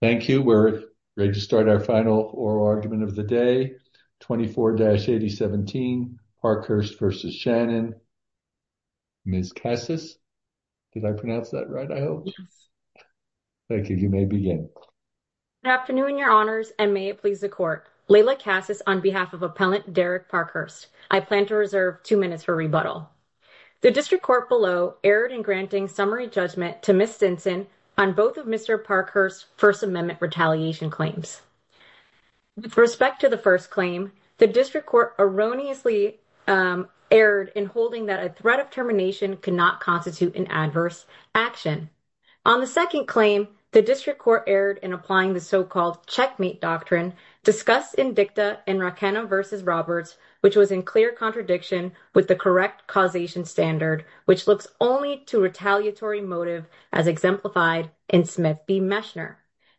Thank you. We're ready to start our final oral argument of the day. 24-8017 Parkhurst v. Shannon. Ms. Cassis. Did I pronounce that right? I hope. Yes. Thank you. You may begin. Good afternoon, your honors, and may it please the court. Layla Cassis on behalf of Appellant Derek Parkhurst. I plan to reserve two minutes for rebuttal. The district court below erred in granting summary judgment to Ms. Stinson on both of Mr. Parkhurst's First Amendment retaliation claims. With respect to the first claim, the district court erroneously erred in holding that a threat of termination cannot constitute an adverse action. On the second claim, the district court erred in applying the so-called checkmate doctrine discussed in dicta in Raquena v. Roberts, which was in clear contradiction with the correct causation standard, which looks only to retaliatory motive as exemplified in Smith v. Mechner.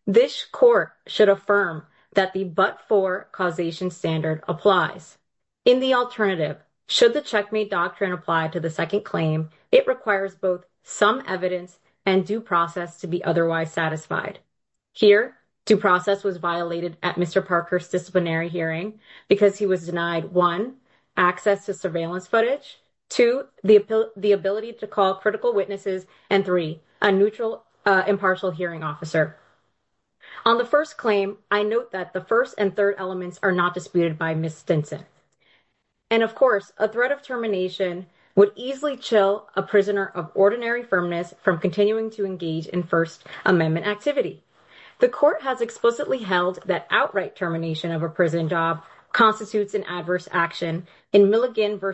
This court should affirm that the but-for causation standard applies. In the alternative, should the checkmate doctrine apply to the second claim, it requires both some evidence and due process to be otherwise satisfied. Here, due process was violated at Mr. Parkhurst's disciplinary hearing because he was denied, one, access to surveillance footage, two, the ability to call critical witnesses, and three, a neutral impartial hearing officer. On the first claim, I note that the first and third elements are not disputed by Ms. Stinson. And of course, a threat of termination would easily chill a prisoner of ordinary firmness from continuing to engage in First Amendment activity. The court has explicitly held that outright termination of a prison job constitutes an adverse action. In Milligan v.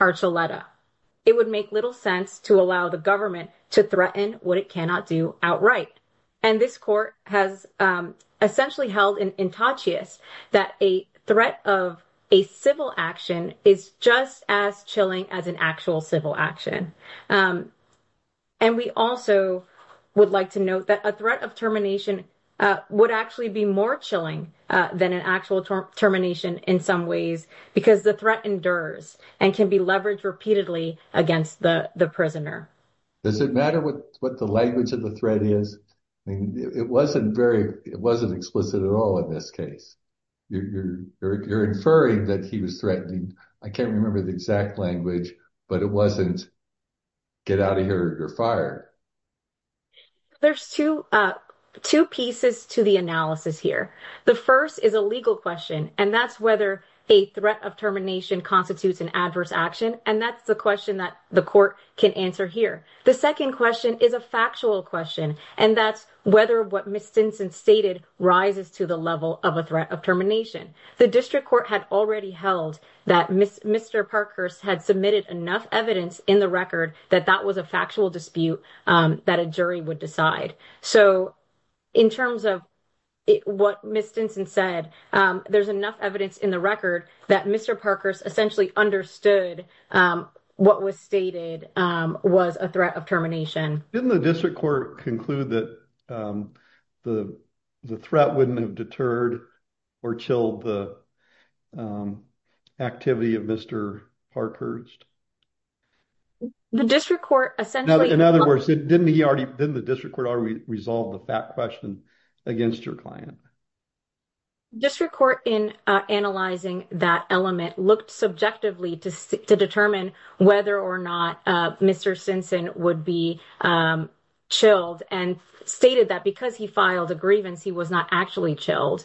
Archuleta, it would make little sense to allow the government to threaten what it cannot do outright. And this court has essentially held an intactious that a threat of a civil action is just as chilling as an actual civil action. And we also would like to note that a threat of termination would actually be more chilling than an actual termination in some ways, because the threat endures and can be leveraged repeatedly against the prisoner. Does it matter what the language of the threat is? It wasn't very, it wasn't explicit at all in this case. You're inferring that he was threatening. I can't remember the exact language, but it wasn't get out of here, you're fired. There's two pieces to the analysis here. The first is a legal question, and that's whether a threat of termination constitutes an adverse action. And that's the question that the court can answer here. The second question is a factual question, and that's whether what Ms. Stinson stated rises to the level of a threat of termination. The district court had already held that Mr. Parkhurst had submitted enough evidence in the record that that was a factual dispute that a jury would decide. So in terms of what Ms. Stinson said, there's enough evidence in the record that Mr. Parkhurst essentially understood what was stated was a threat of termination. Didn't the district court conclude that the threat wouldn't have deterred or chilled the activity of Mr. Parkhurst? In other words, didn't the district court already resolve the fact question against your client? District court in analyzing that element looked subjectively to determine whether or not Mr. Stinson would be chilled and stated that because he filed a grievance, he was not actually chilled.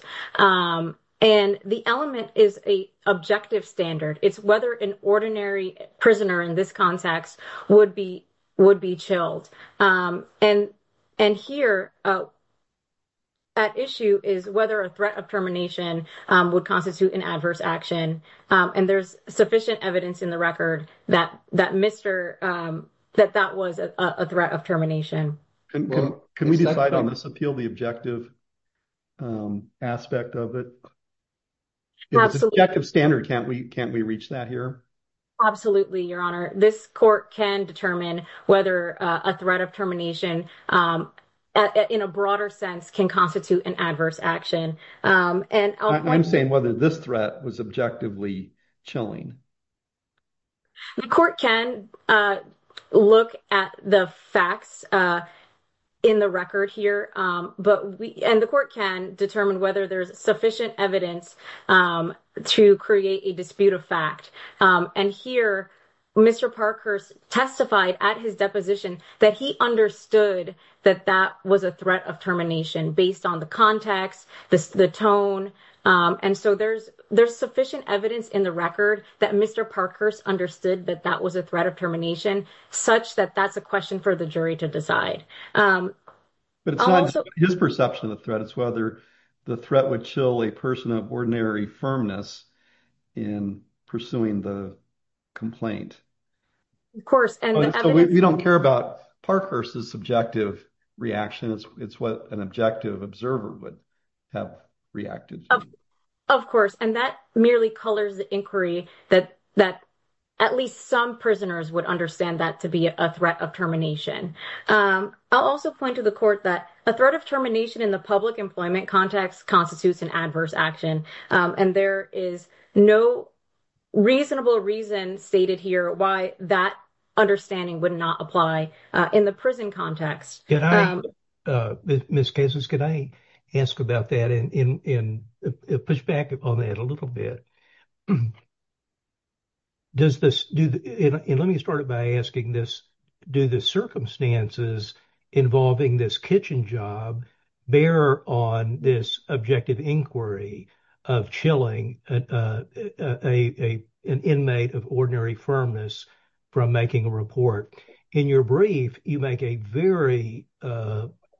And the element is a objective standard. It's whether an ordinary prisoner in this context would be chilled. And here at issue is whether a threat of termination would constitute an adverse action. And there's sufficient evidence in the record that that was a threat of termination. Can we decide on this appeal, the objective aspect of it? It's an objective standard. Can't we reach that here? Absolutely, Your Honor. This court can determine whether a threat of termination in a broader sense can constitute an adverse action. I'm saying whether this threat was objectively chilling. The court can look at the facts in the record here, and the court can determine whether there's sufficient evidence to create a dispute of fact. And here Mr. Parkhurst testified at his deposition that he understood that that was a threat of termination based on the context, the tone. And so there's sufficient evidence in the record that Mr. Parkhurst understood that that was a threat of termination, such that that's a question for the jury to decide. But it's not his perception of the threat. It's whether the threat would chill a person of ordinary firmness in pursuing the complaint. Of course. And so we don't care about Parkhurst's subjective reaction. It's what an objective observer would have reacted to. Of course. And that merely colors the inquiry that at least some prisoners would understand that to be a threat of termination. I'll also point to the court that a threat of termination in the public employment context constitutes an adverse action. And there is no reasonable reason stated here why that understanding would not apply in the prison context. Can I, Ms. Kessler, can I ask about that and push back on that a little bit? Does this, and let me start by asking this, do the circumstances involving this kitchen job bear on this objective inquiry of chilling an inmate of ordinary firmness from making a report? In your brief, you make a very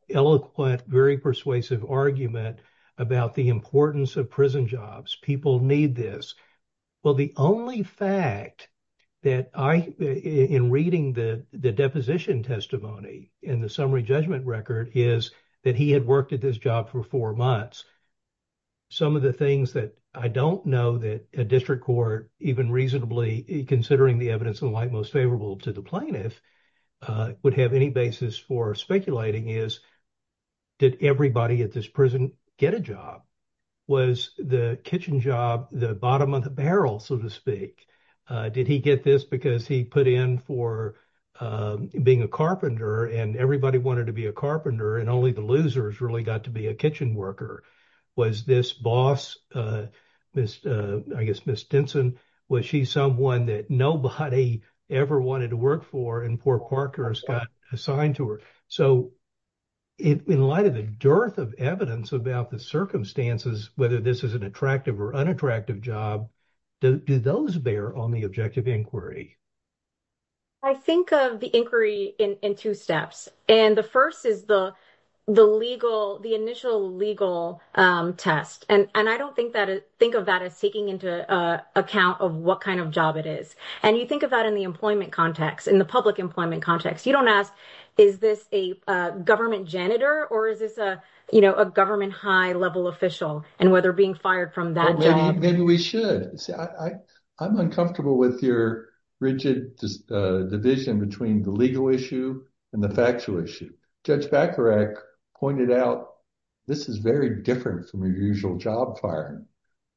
eloquent, very persuasive argument about the importance of prison jobs. People need this. Well, the only fact that I, in reading the deposition testimony in the summary judgment record is that he had worked at this job for four months. Some of the things that I don't know that a district court, even reasonably considering the evidence in light most favorable to the plaintiff, would have any basis for speculating is, did everybody at this prison get a job? Was the kitchen job the bottom of the barrel, so to speak? Did he get this because he put in for being a carpenter and everybody wanted to be a carpenter and only the losers really got to be a kitchen worker? Was this boss, Miss, I guess, Miss Denson, was she someone that nobody ever wanted to work for and poor parkers got assigned to her? So in light of the dearth of evidence about the circumstances, whether this is an attractive or unattractive job, do those bear on the objective inquiry? I think of the inquiry in two steps. And the first is the initial legal test. And I don't think of that as taking into account of what kind of job it is. And you think of that in the employment context, in the public employment context. You don't ask, is this a government janitor or is this a government high level official and whether being fired from that job? Maybe we should. I'm uncomfortable with your rigid division between the legal issue and the factual issue. Judge Bacharach pointed out this is very different from your usual job firing.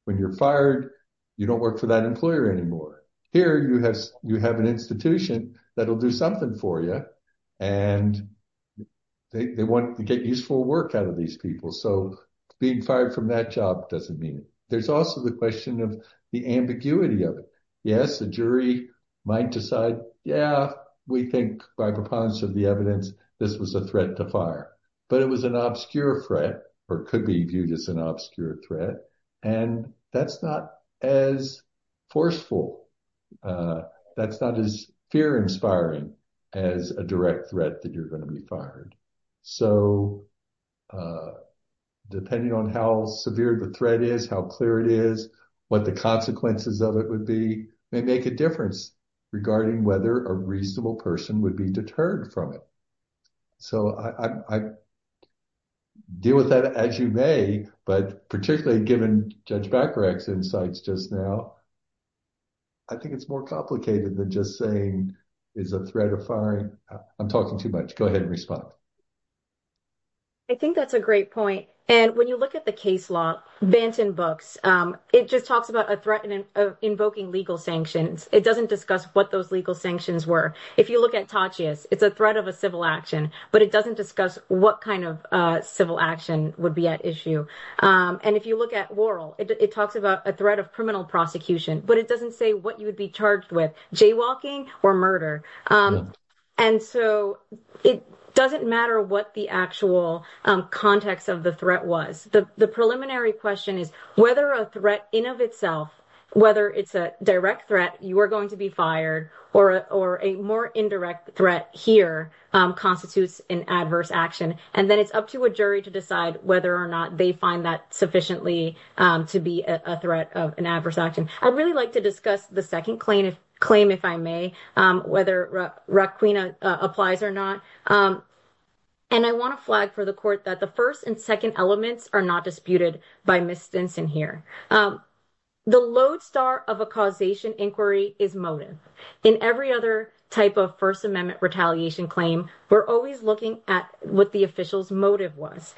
When you're fired, you don't work for that employer anymore. Here you have an institution that'll do something for you and they want to get useful work out of these people. So being fired from that job doesn't mean it. There's also the question of the ambiguity of it. Yes, jury might decide, yeah, we think by preponderance of the evidence, this was a threat to fire, but it was an obscure threat or could be viewed as an obscure threat. And that's not as forceful. That's not as fear inspiring as a direct threat that you're going to be fired. So depending on how severe the threat is, how clear it is, what the consequences of it would be, may make a difference regarding whether a reasonable person would be deterred from it. So I deal with that as you may, but particularly given Judge Bacharach's insights just now, I think it's more complicated than just saying is a threat of firing. I'm talking too much, go ahead and respond. I think that's a great point. And when you look at the case law, Banton Books, it just talks about a threat of invoking legal sanctions. It doesn't discuss what those legal sanctions were. If you look at Tatchius, it's a threat of a civil action, but it doesn't discuss what kind of civil action would be at issue. And if you look at Worrell, it talks about a threat of criminal prosecution, but it doesn't say what you would be charged with, jaywalking or murder. And so it doesn't matter what the actual context of the threat was. The preliminary question is whether a threat in of itself, whether it's a direct threat, you are going to be fired or a more indirect threat here constitutes an adverse action. And then it's up to a jury to decide whether or not they find that sufficiently to be a threat of an adverse action. I'd really like to discuss the second claim, if I may, whether Raquina applies or not. And I want to flag for the court that the first and second elements are not disputed by Ms. Stinson here. The lodestar of a causation inquiry is motive. In every other type of First Amendment retaliation claim, we're always looking at what the official's motive was,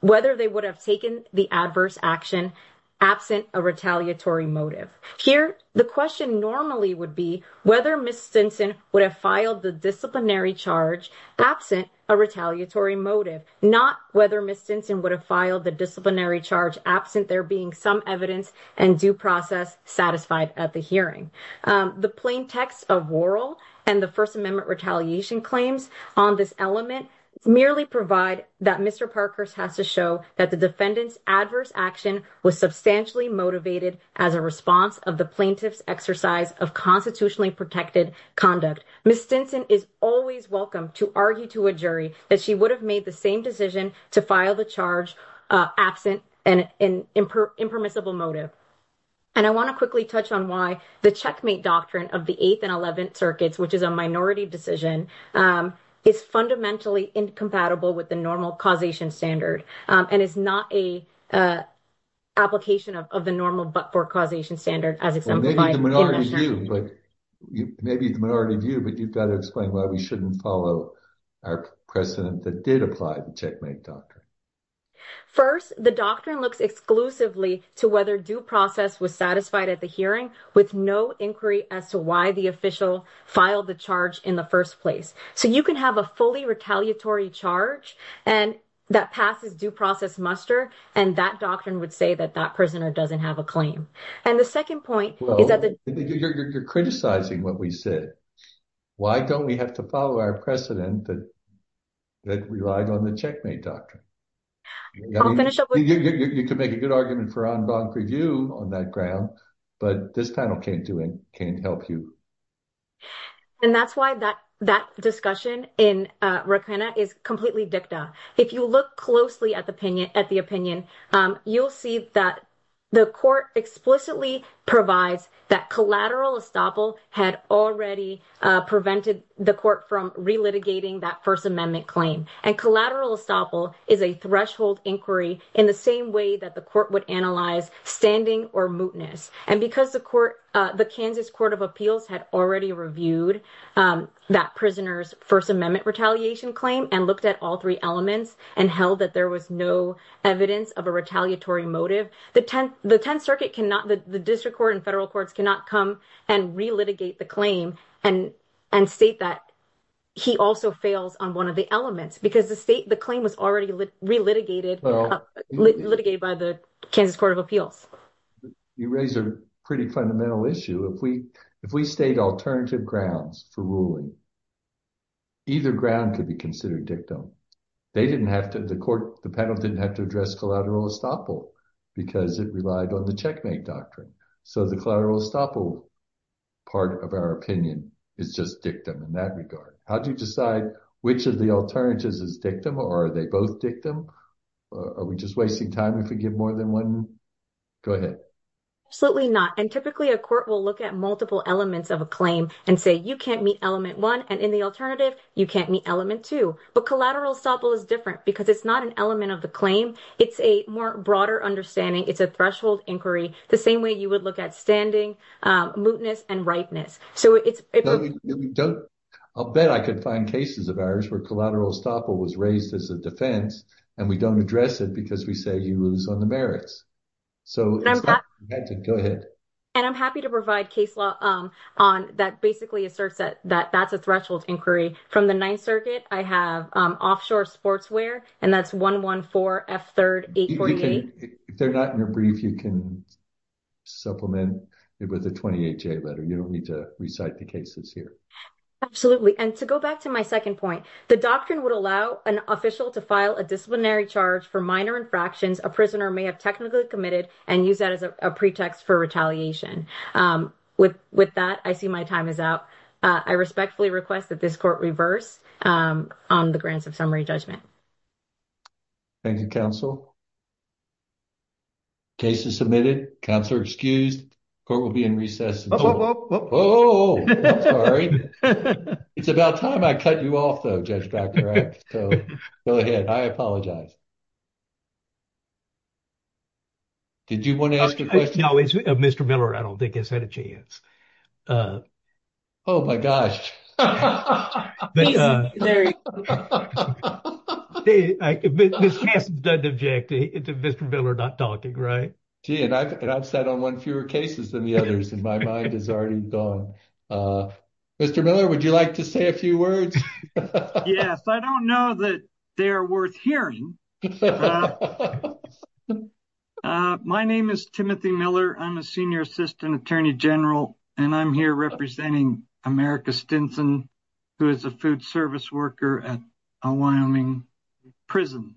whether they would have taken the adverse action absent a retaliatory motive. Here, the question normally would be whether Ms. Stinson would have filed the disciplinary charge absent a retaliatory motive, not whether Ms. Stinson would have filed the disciplinary charge absent there being some evidence and due process satisfied at the hearing. The plain text of Worrell and the First Amendment retaliation claims on this element merely provide that Mr. Parker's has to show that the defendant's adverse action was substantially motivated as a response of the plaintiff's exercise of constitutionally protected conduct. Ms. Stinson is always welcome to argue to a jury that she would have made the same decision to file the charge absent an impermissible motive. And I want to quickly touch on why the checkmate doctrine of the 8th and 11th circuits, which is a minority decision, is fundamentally incompatible with the normal causation standard and is not an application of the normal but for causation standard. Maybe the minority view, but you've got to explain why we shouldn't follow our precedent that did apply the checkmate doctrine. First, the doctrine looks exclusively to whether due process was satisfied at the hearing with no inquiry as to why the official filed the charge in the first place. So you can have a fully retaliatory charge and that passes due process muster. And that doctrine would say that that prisoner doesn't have a claim. And the second point is that you're criticizing what we said. Why don't we have to follow our precedent that relied on the checkmate doctrine? You can make a good argument for en banc review on that ground, but this panel can't help you. And that's why that that discussion in Raquena is completely dicta. If you look closely at the opinion, at the opinion, you'll see that the court explicitly provides that collateral estoppel had already prevented the court from relitigating that First Amendment claim. And collateral estoppel is a threshold inquiry in the same way that the court would analyze standing or mootness. And because the Kansas Court of Appeals had already reviewed that prisoner's First Amendment retaliation claim and looked at all three elements and held that there was no evidence of a retaliatory motive, the 10th Circuit cannot, the district court and federal courts cannot come and relitigate the claim and state that he also fails on one of the elements because the state, the claim was already relitigated, litigated by the Kansas Court of Appeals. You raise a pretty fundamental issue. If we state alternative grounds for ruling, either ground could be considered dictum. The panel didn't have to address collateral estoppel because it relied on the checkmate doctrine. So the collateral estoppel part of our opinion is just dictum in that regard. How do you decide which of the alternatives is dictum or are they both dictum? Are we just wasting time if we give more than one element? Absolutely not. And typically a court will look at multiple elements of a claim and say you can't meet element one and in the alternative, you can't meet element two. But collateral estoppel is different because it's not an element of the claim. It's a more broader understanding. It's a threshold inquiry, the same way you would look at standing, mootness and ripeness. I'll bet I could find cases of ours where collateral estoppel was raised as a defense and we don't address it because we say you lose on the merits. And I'm happy to provide case law that basically asserts that that's a threshold inquiry. From the Ninth Circuit, I have offshore sportswear and that's 114 F3 848. If they're not in a brief, you can supplement it with a 28-J letter. You don't need to recite the cases here. Absolutely. And to go back to my second point, the doctrine would allow an official to file disciplinary charge for minor infractions a prisoner may have technically committed and use that as a pretext for retaliation. With that, I see my time is out. I respectfully request that this court reverse on the Grants of Summary Judgment. Thank you, counsel. Case is submitted. Counselor excused. Court will be in recess. Oh, I'm sorry. It's about time I cut you off though, Judge Dr. Epps. So, go ahead. I apologize. Did you want to ask a question? No, Mr. Miller, I don't think has had a chance. Oh, my gosh. Ms. Hassett doesn't object to Mr. Miller not talking, right? Gee, and I've sat on one fewer cases than the others, and my mind is already gone. Mr. Miller, would you like to say a few words? Yes, I don't know that they're worth hearing. My name is Timothy Miller. I'm a senior assistant attorney general, and I'm here representing America Stinson, who is a food service worker at a Wyoming prison.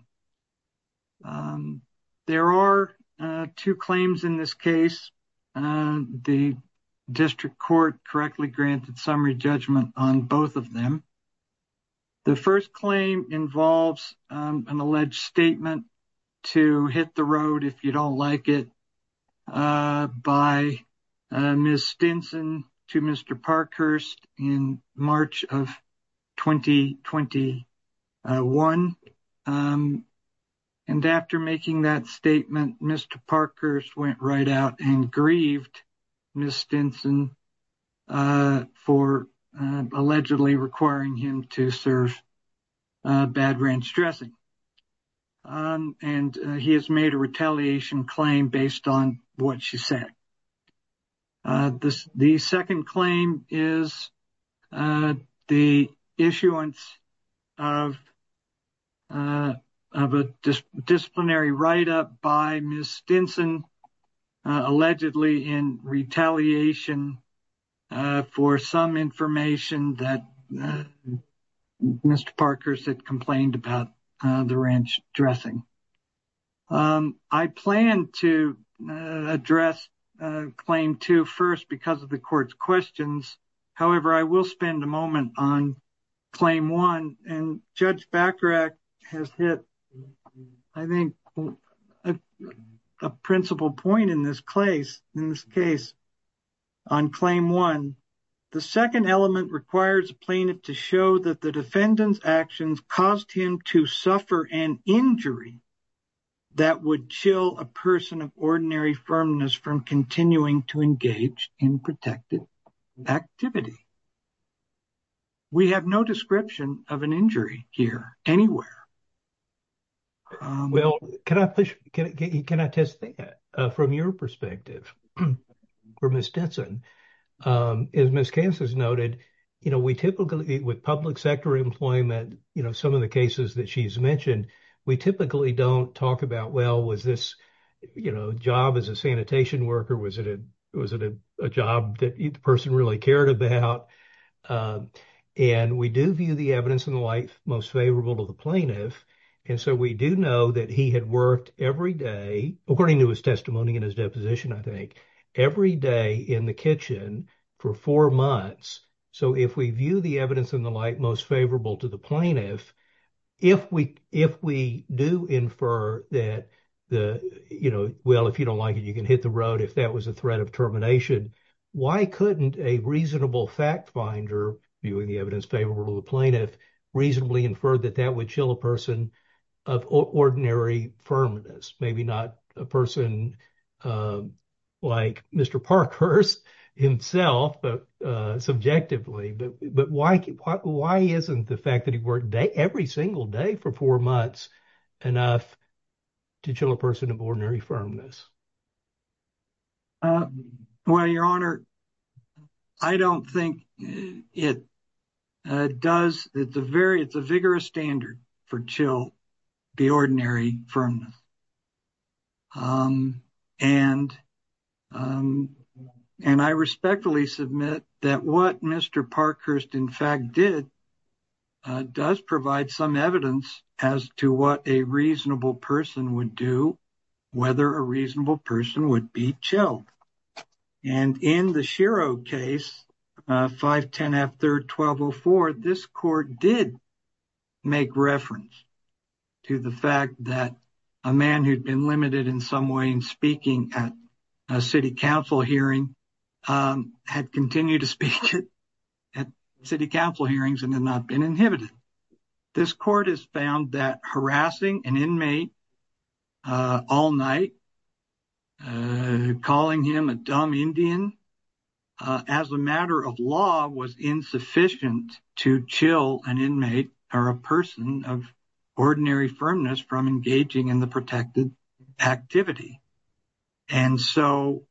There are two claims in this case. The district court correctly granted summary judgment on both of them. The first claim involves an alleged statement to hit the road, if you don't like it, by Ms. Stinson to Mr. Parkhurst in March of 2021. And after making that statement, Mr. Parkhurst went right out and grieved Ms. Stinson for allegedly requiring him to serve bad ranch dressing. And he has made a retaliation claim based on what she said. The second claim is the issuance of a disciplinary write-up by Ms. Stinson, allegedly in retaliation for some information that Mr. Parkhurst had complained about the ranch dressing. I plan to address claim two first because of the court's questions. However, I will spend a moment on claim one. And Judge Bacharach has hit, I think, a principal point in this case on claim one. The second element requires plaintiff to show that the defendant's actions caused him to suffer an injury that would chill a person of ordinary firmness from continuing to engage in protective activity. We have no description of an injury here anywhere. Well, can I push, can I test that from your perspective for Ms. Stinson? As Ms. Kansas noted, we typically, with public sector employment, some of the cases that she's mentioned, we typically don't talk about, well, was this a job as a sanitation worker? Was it a job that the person really cared about? And we do view the evidence in the life most favorable to the plaintiff. And so we do know that he had worked every day, according to his testimony in his position, I think, every day in the kitchen for four months. So if we view the evidence in the light most favorable to the plaintiff, if we do infer that, well, if you don't like it, you can hit the road, if that was a threat of termination, why couldn't a reasonable fact finder viewing the evidence favorable to the plaintiff reasonably infer that that would chill a person of ordinary firmness? Maybe not a person like Mr. Parkhurst himself, but subjectively. But why isn't the fact that he worked every single day for four months enough to chill a person of ordinary firmness? Well, your honor, I don't think it does. It's a very, it's a vigorous standard for chill the ordinary firmness. And I respectfully submit that what Mr. Parkhurst, in fact, did does provide some evidence as to what a reasonable person would do, whether a reasonable person would be chilled. And in the Shiro case, 510 F 3rd 1204, this court did make reference to the fact that a man who'd been limited in some way in speaking at a city council hearing had continued to speak at city council hearings and had not been inhibited. This court has found that harassing an inmate all night, calling him a dumb Indian as a matter of law was insufficient to chill an inmate or a person of ordinary firmness from engaging in the protected activity. And so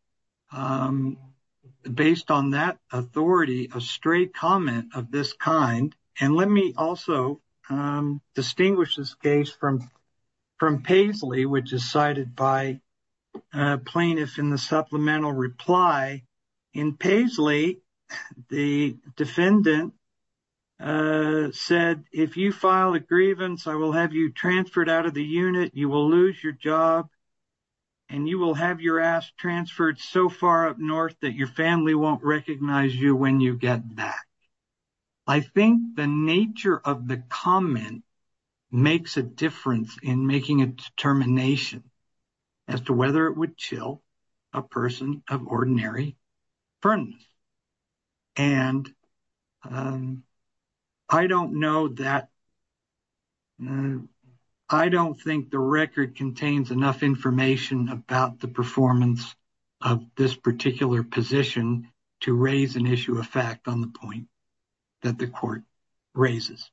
based on that authority, a straight comment of this kind. And let me also distinguish this case from Paisley, which is cited by plaintiffs in the supplemental reply. In Paisley, the defendant said, if you file a grievance, I will have you transferred out of the unit. You will lose your job and you will have your ass transferred so far up north that your family won't recognize you when you get back. I think the nature of the comment makes a difference in making a determination as to whether it would chill a person of ordinary firmness. And I don't know that. I don't think the record contains enough information about the performance of this particular position to raise an issue of fact on the point that the court raises.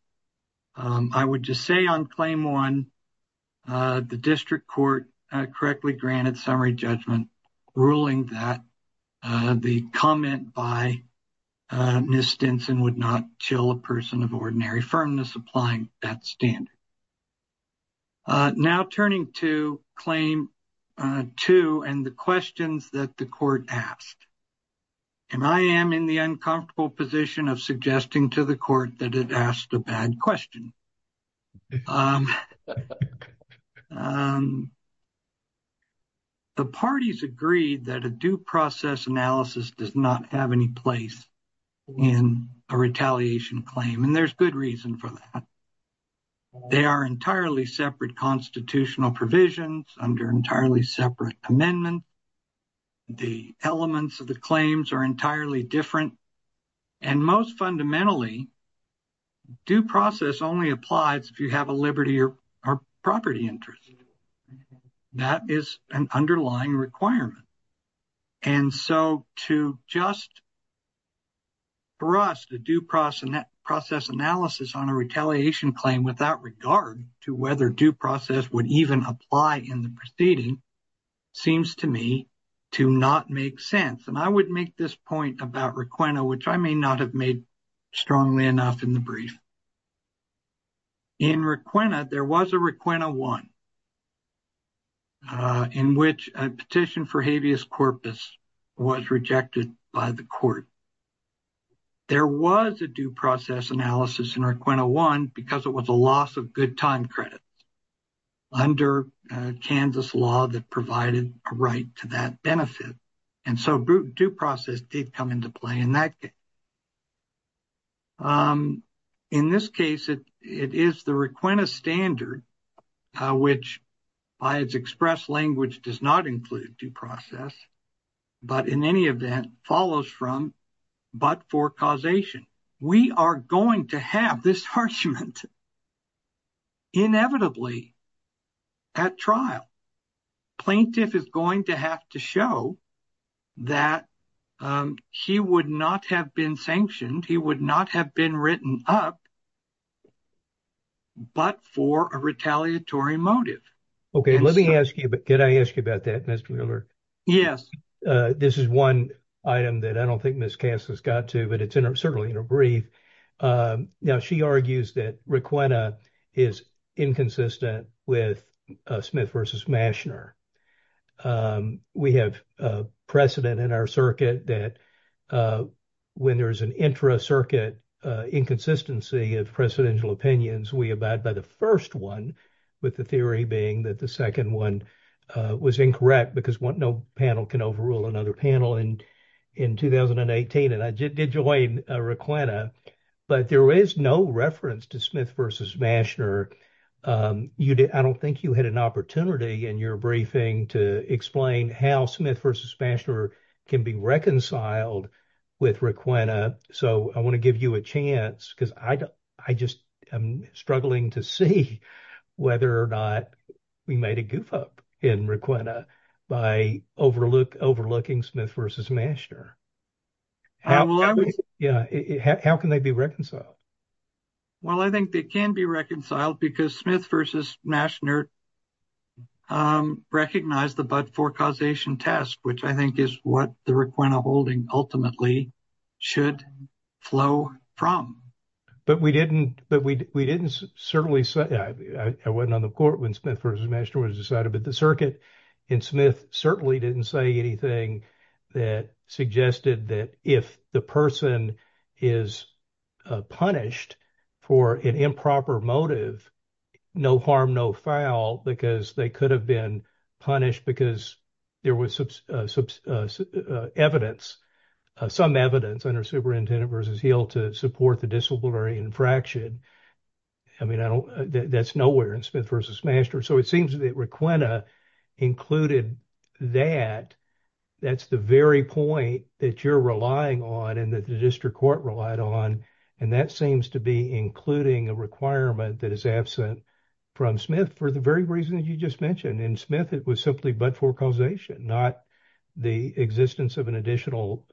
I would just say on claim one, the district court correctly granted summary judgment ruling that the comment by Ms. Stinson would not chill a person of ordinary firmness applying that standard. Now turning to claim two and the questions that the court asked. And I am in the uncomfortable position of suggesting to the court that it asked a bad question. The parties agreed that a due process analysis does not have any place in a retaliation claim. And there's good reason for that. They are entirely separate constitutional provisions under entirely separate amendments. The elements of the claims are entirely different. And most fundamentally, due process only applies if you have a liberty or property interest. That is an underlying requirement. And so to just for us to do process analysis on a retaliation claim without regard to whether due process would even apply in the proceeding seems to me to not make sense. And I would make this point about Requena, which I may not have made strongly enough in the brief. In Requena, there was a Requena one in which a petition for habeas corpus was rejected by the court. There was a due process analysis in Requena one because it was a loss of good time credit under Kansas law that provided a right to that benefit. And so due process did come into play in that case. In this case, it is the Requena standard, which by its express language does not include due process, but in any event follows from but for causation. We are going to have this harassment inevitably at trial. Plaintiff is going to have to show that he would not have been sanctioned. He would not have been written up but for a retaliatory motive. Okay, let me ask you, but can I ask you about that, Mr. Wheeler? Yes. This is one item that I don't think Miss Cass has got to, but it's certainly in her brief. Now, she argues that Requena is inconsistent with Smith v. Mashner. We have precedent in our circuit that when there's an intra-circuit inconsistency of precedential opinions, we abide by the first one with the theory being that the second one was incorrect because no panel can overrule another panel in 2018. And I did join Requena, but there is no reference to Smith v. Mashner. I don't think you had an opportunity in your briefing to explain how Smith v. Mashner can be reconciled with Requena. So, I want to give you a chance because I just am struggling to see whether or not we made a goof up in Requena by overlooking Smith v. Mashner. How can they be reconciled? Well, I think they can be reconciled because Smith v. Mashner recognized the but-for causation test, which I think is what the Requena holding ultimately should flow from. But we didn't certainly say, I wasn't on the court when Smith v. Mashner was decided, but the circuit in Smith certainly didn't say anything that suggested that if the person is punished for an improper motive, no harm, no foul, because they could have been punished because there was evidence, some evidence under Superintendent v. Hill to support the disciplinary infraction. I mean, I don't, that's nowhere in Smith v. Mashner. So, it seems that Requena included that. That's the very point that you're relying on and that the district court relied on. And that seems to be including a requirement that is absent from Smith for the very reasons you just mentioned. In Smith, it was simply but-for causation, not the existence of an additional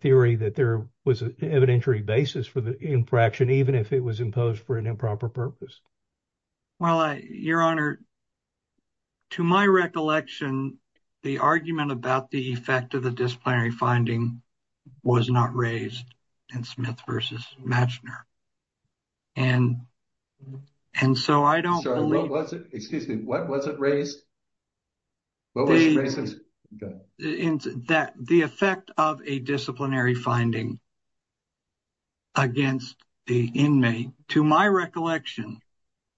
theory that there was an evidentiary basis for the infraction, even if it was imposed for an improper purpose. Well, Your Honor, to my recollection, the argument about the effect of the disciplinary finding was not raised in Smith v. Mashner. And so, I don't believe... Sorry, what was it? Excuse me. What was it raised? What was it raised as? That the effect of a disciplinary finding against the inmate, to my recollection,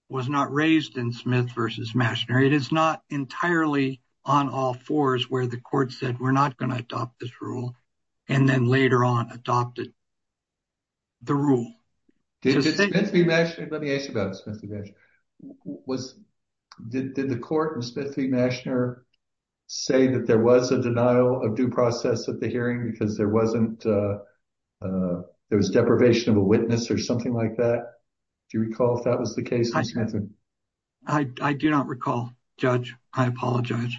was not raised in Smith v. Mashner. It is not entirely on all fours where the court said, we're not going to adopt this rule, and then later on adopted the rule. Did Smith v. Mashner... Let me ask you about Smith v. Mashner. Did the court in Smith v. Mashner say that there was a denial of due process at the hearing because there wasn't, there was deprivation of a witness or something like that? Do you recall if that was the case? I do not recall, Judge. I apologize.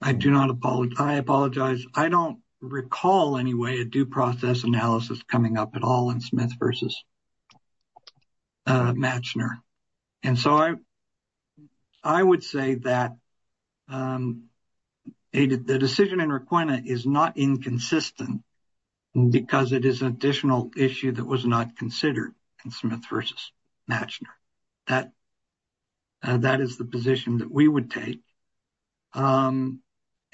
I do not apologize. I apologize. I don't recall any way a due process analysis coming up at all in Smith v. Mashner. And so, I would say that the decision in Requena is not inconsistent because it is an additional issue that was not considered in Smith v. Mashner. That is the position that we would take. And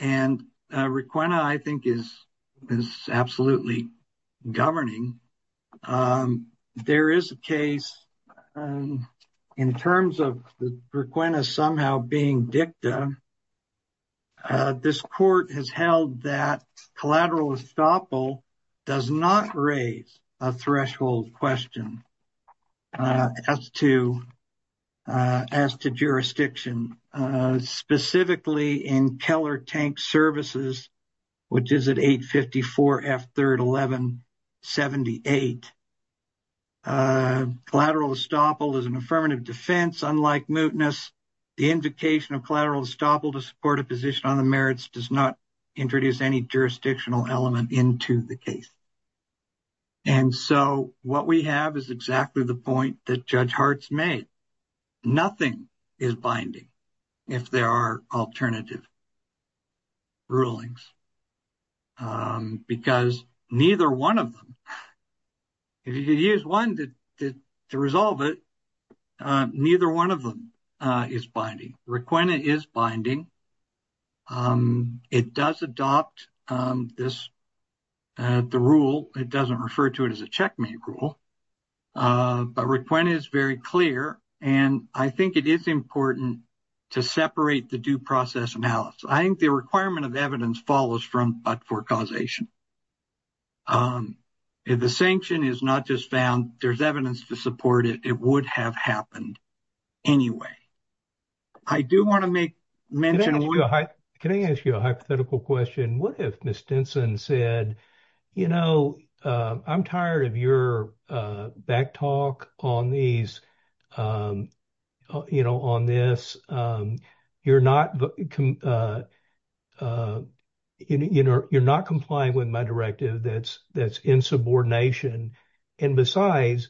Requena, I think, is absolutely governing. There is a case, in terms of Requena somehow being dicta. This court has held that collateral estoppel does not raise a threshold question as to jurisdiction, specifically in Keller Tank Services, which is at 854 F 3rd 1178. A collateral estoppel is an affirmative defense, unlike mootness. The invocation of collateral estoppel to support a position on the merits does not introduce any jurisdictional element into the case. And so, what we have is exactly the point that Judge Hart's made. Nothing is binding if there are alternative rulings because neither one of them is binding. Requena is binding. It does adopt the rule. It does not refer to it as a checkmate rule. But Requena is very clear, and I think it is important to separate the due process analysis. I think the requirement of evidence follows from but for causation. If the sanction is not just found, there is evidence to support it, it would have happened anyway. I do want to make mention of one- Can I ask you a hypothetical question? What if Ms. Denson said, you know, I'm tired of your backtalk on this. You're not complying with my directive that's in subordination. And besides,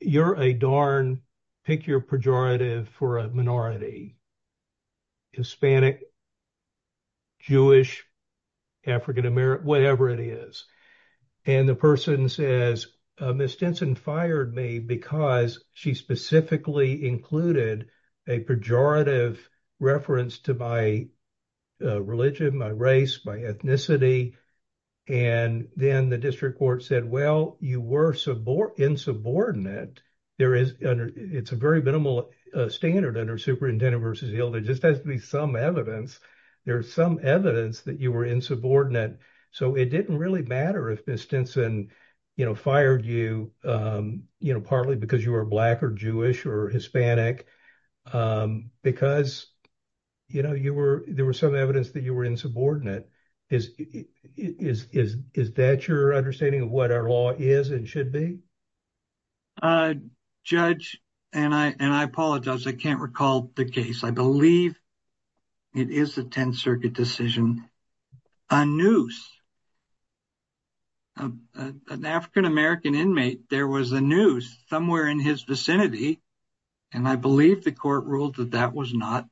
you're a darn, pick your pejorative for a minority, Hispanic, Jewish, African American, whatever it is. And the person says, Ms. Denson fired me because she specifically included a pejorative reference to my religion, my race, my ethnicity. And then the district court said, well, you were insubordinate. It's a very minimal standard under superintendent versus yield. There just has to be some evidence. There's some evidence that you were insubordinate. So it didn't really matter if Ms. Denson fired you, you know, partly because you were Black or Jewish or Hispanic, because, you know, there was some evidence that you were insubordinate. Is that your understanding of what our law is and should be? Uh, Judge, and I apologize. I can't recall the case. I believe it is the 10th Circuit decision. A noose. An African American inmate, there was a noose somewhere in his vicinity. And I believe the court ruled that that was not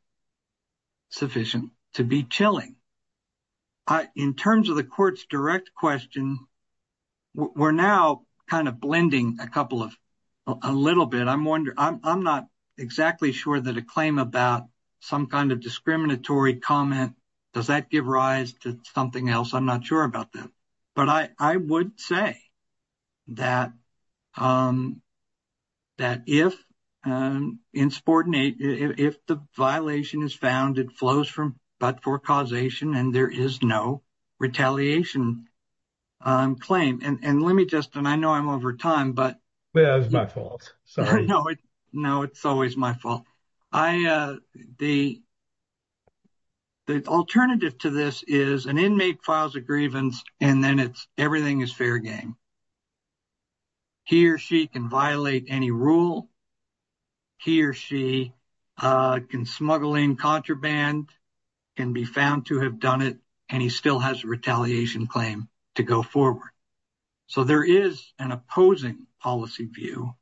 sufficient to be chilling. In terms of the court's direct question, we're now kind of blending a couple of, a little bit. I'm wondering, I'm not exactly sure that a claim about some kind of discriminatory comment, does that give rise to something else? I'm not sure about that. But I would say that if insubordinate, if the violation is found, it flows from, but for causation and there is no retaliation claim. And let me just, and I know I'm over time, but. That's my fault. Sorry. No, it's always my fault. The alternative to this is an inmate files a grievance and then it's, everything is fair game. He or she can violate any rule. He or she can smuggle in contraband, can be found to have done it, and he still has a retaliation claim to go forward. So there is an opposing policy view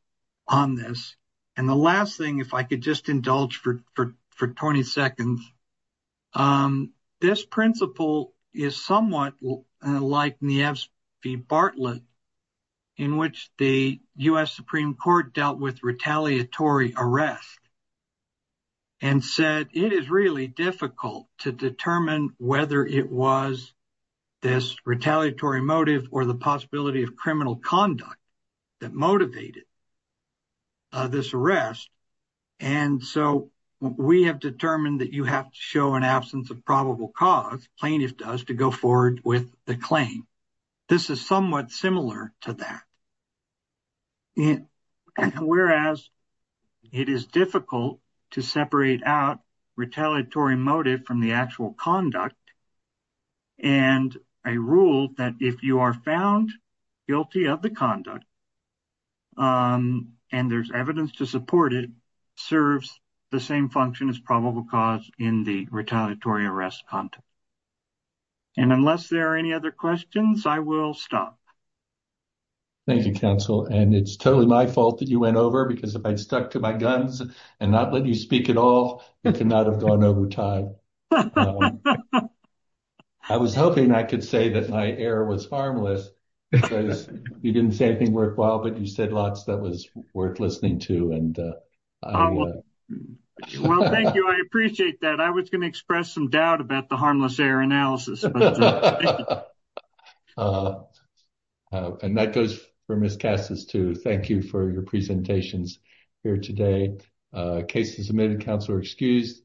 on this. And the last thing, if I could just indulge for 20 seconds. This principle is somewhat like Nieves v. Bartlett, in which the US Supreme Court dealt with retaliatory arrest and said, it is really difficult to determine whether it was this retaliatory motive or the possibility of criminal conduct that motivated this arrest. And so we have determined that you have to show an absence of probable cause, plaintiff does, to go forward with the claim. This is somewhat similar to that. Whereas it is difficult to separate out retaliatory motive from the actual conduct and a rule that if you are found guilty of the conduct and there's evidence to support it, serves the same function as probable cause in the retaliatory arrest content. And unless there are any other questions, I will stop. Thank you, counsel. And it's totally my fault that you went over because if I stuck to my guns and not let you speak at all, it could not have gone over time. I was hoping I could say that my error was harmless. You didn't say anything worthwhile, but you said lots that was worth listening to. Well, thank you. I appreciate that. I was going to express some doubt about the harmless error analysis. And that goes for Ms. Cassis too. Thank you for your presentations here today. Cases submitted, counsel are excused.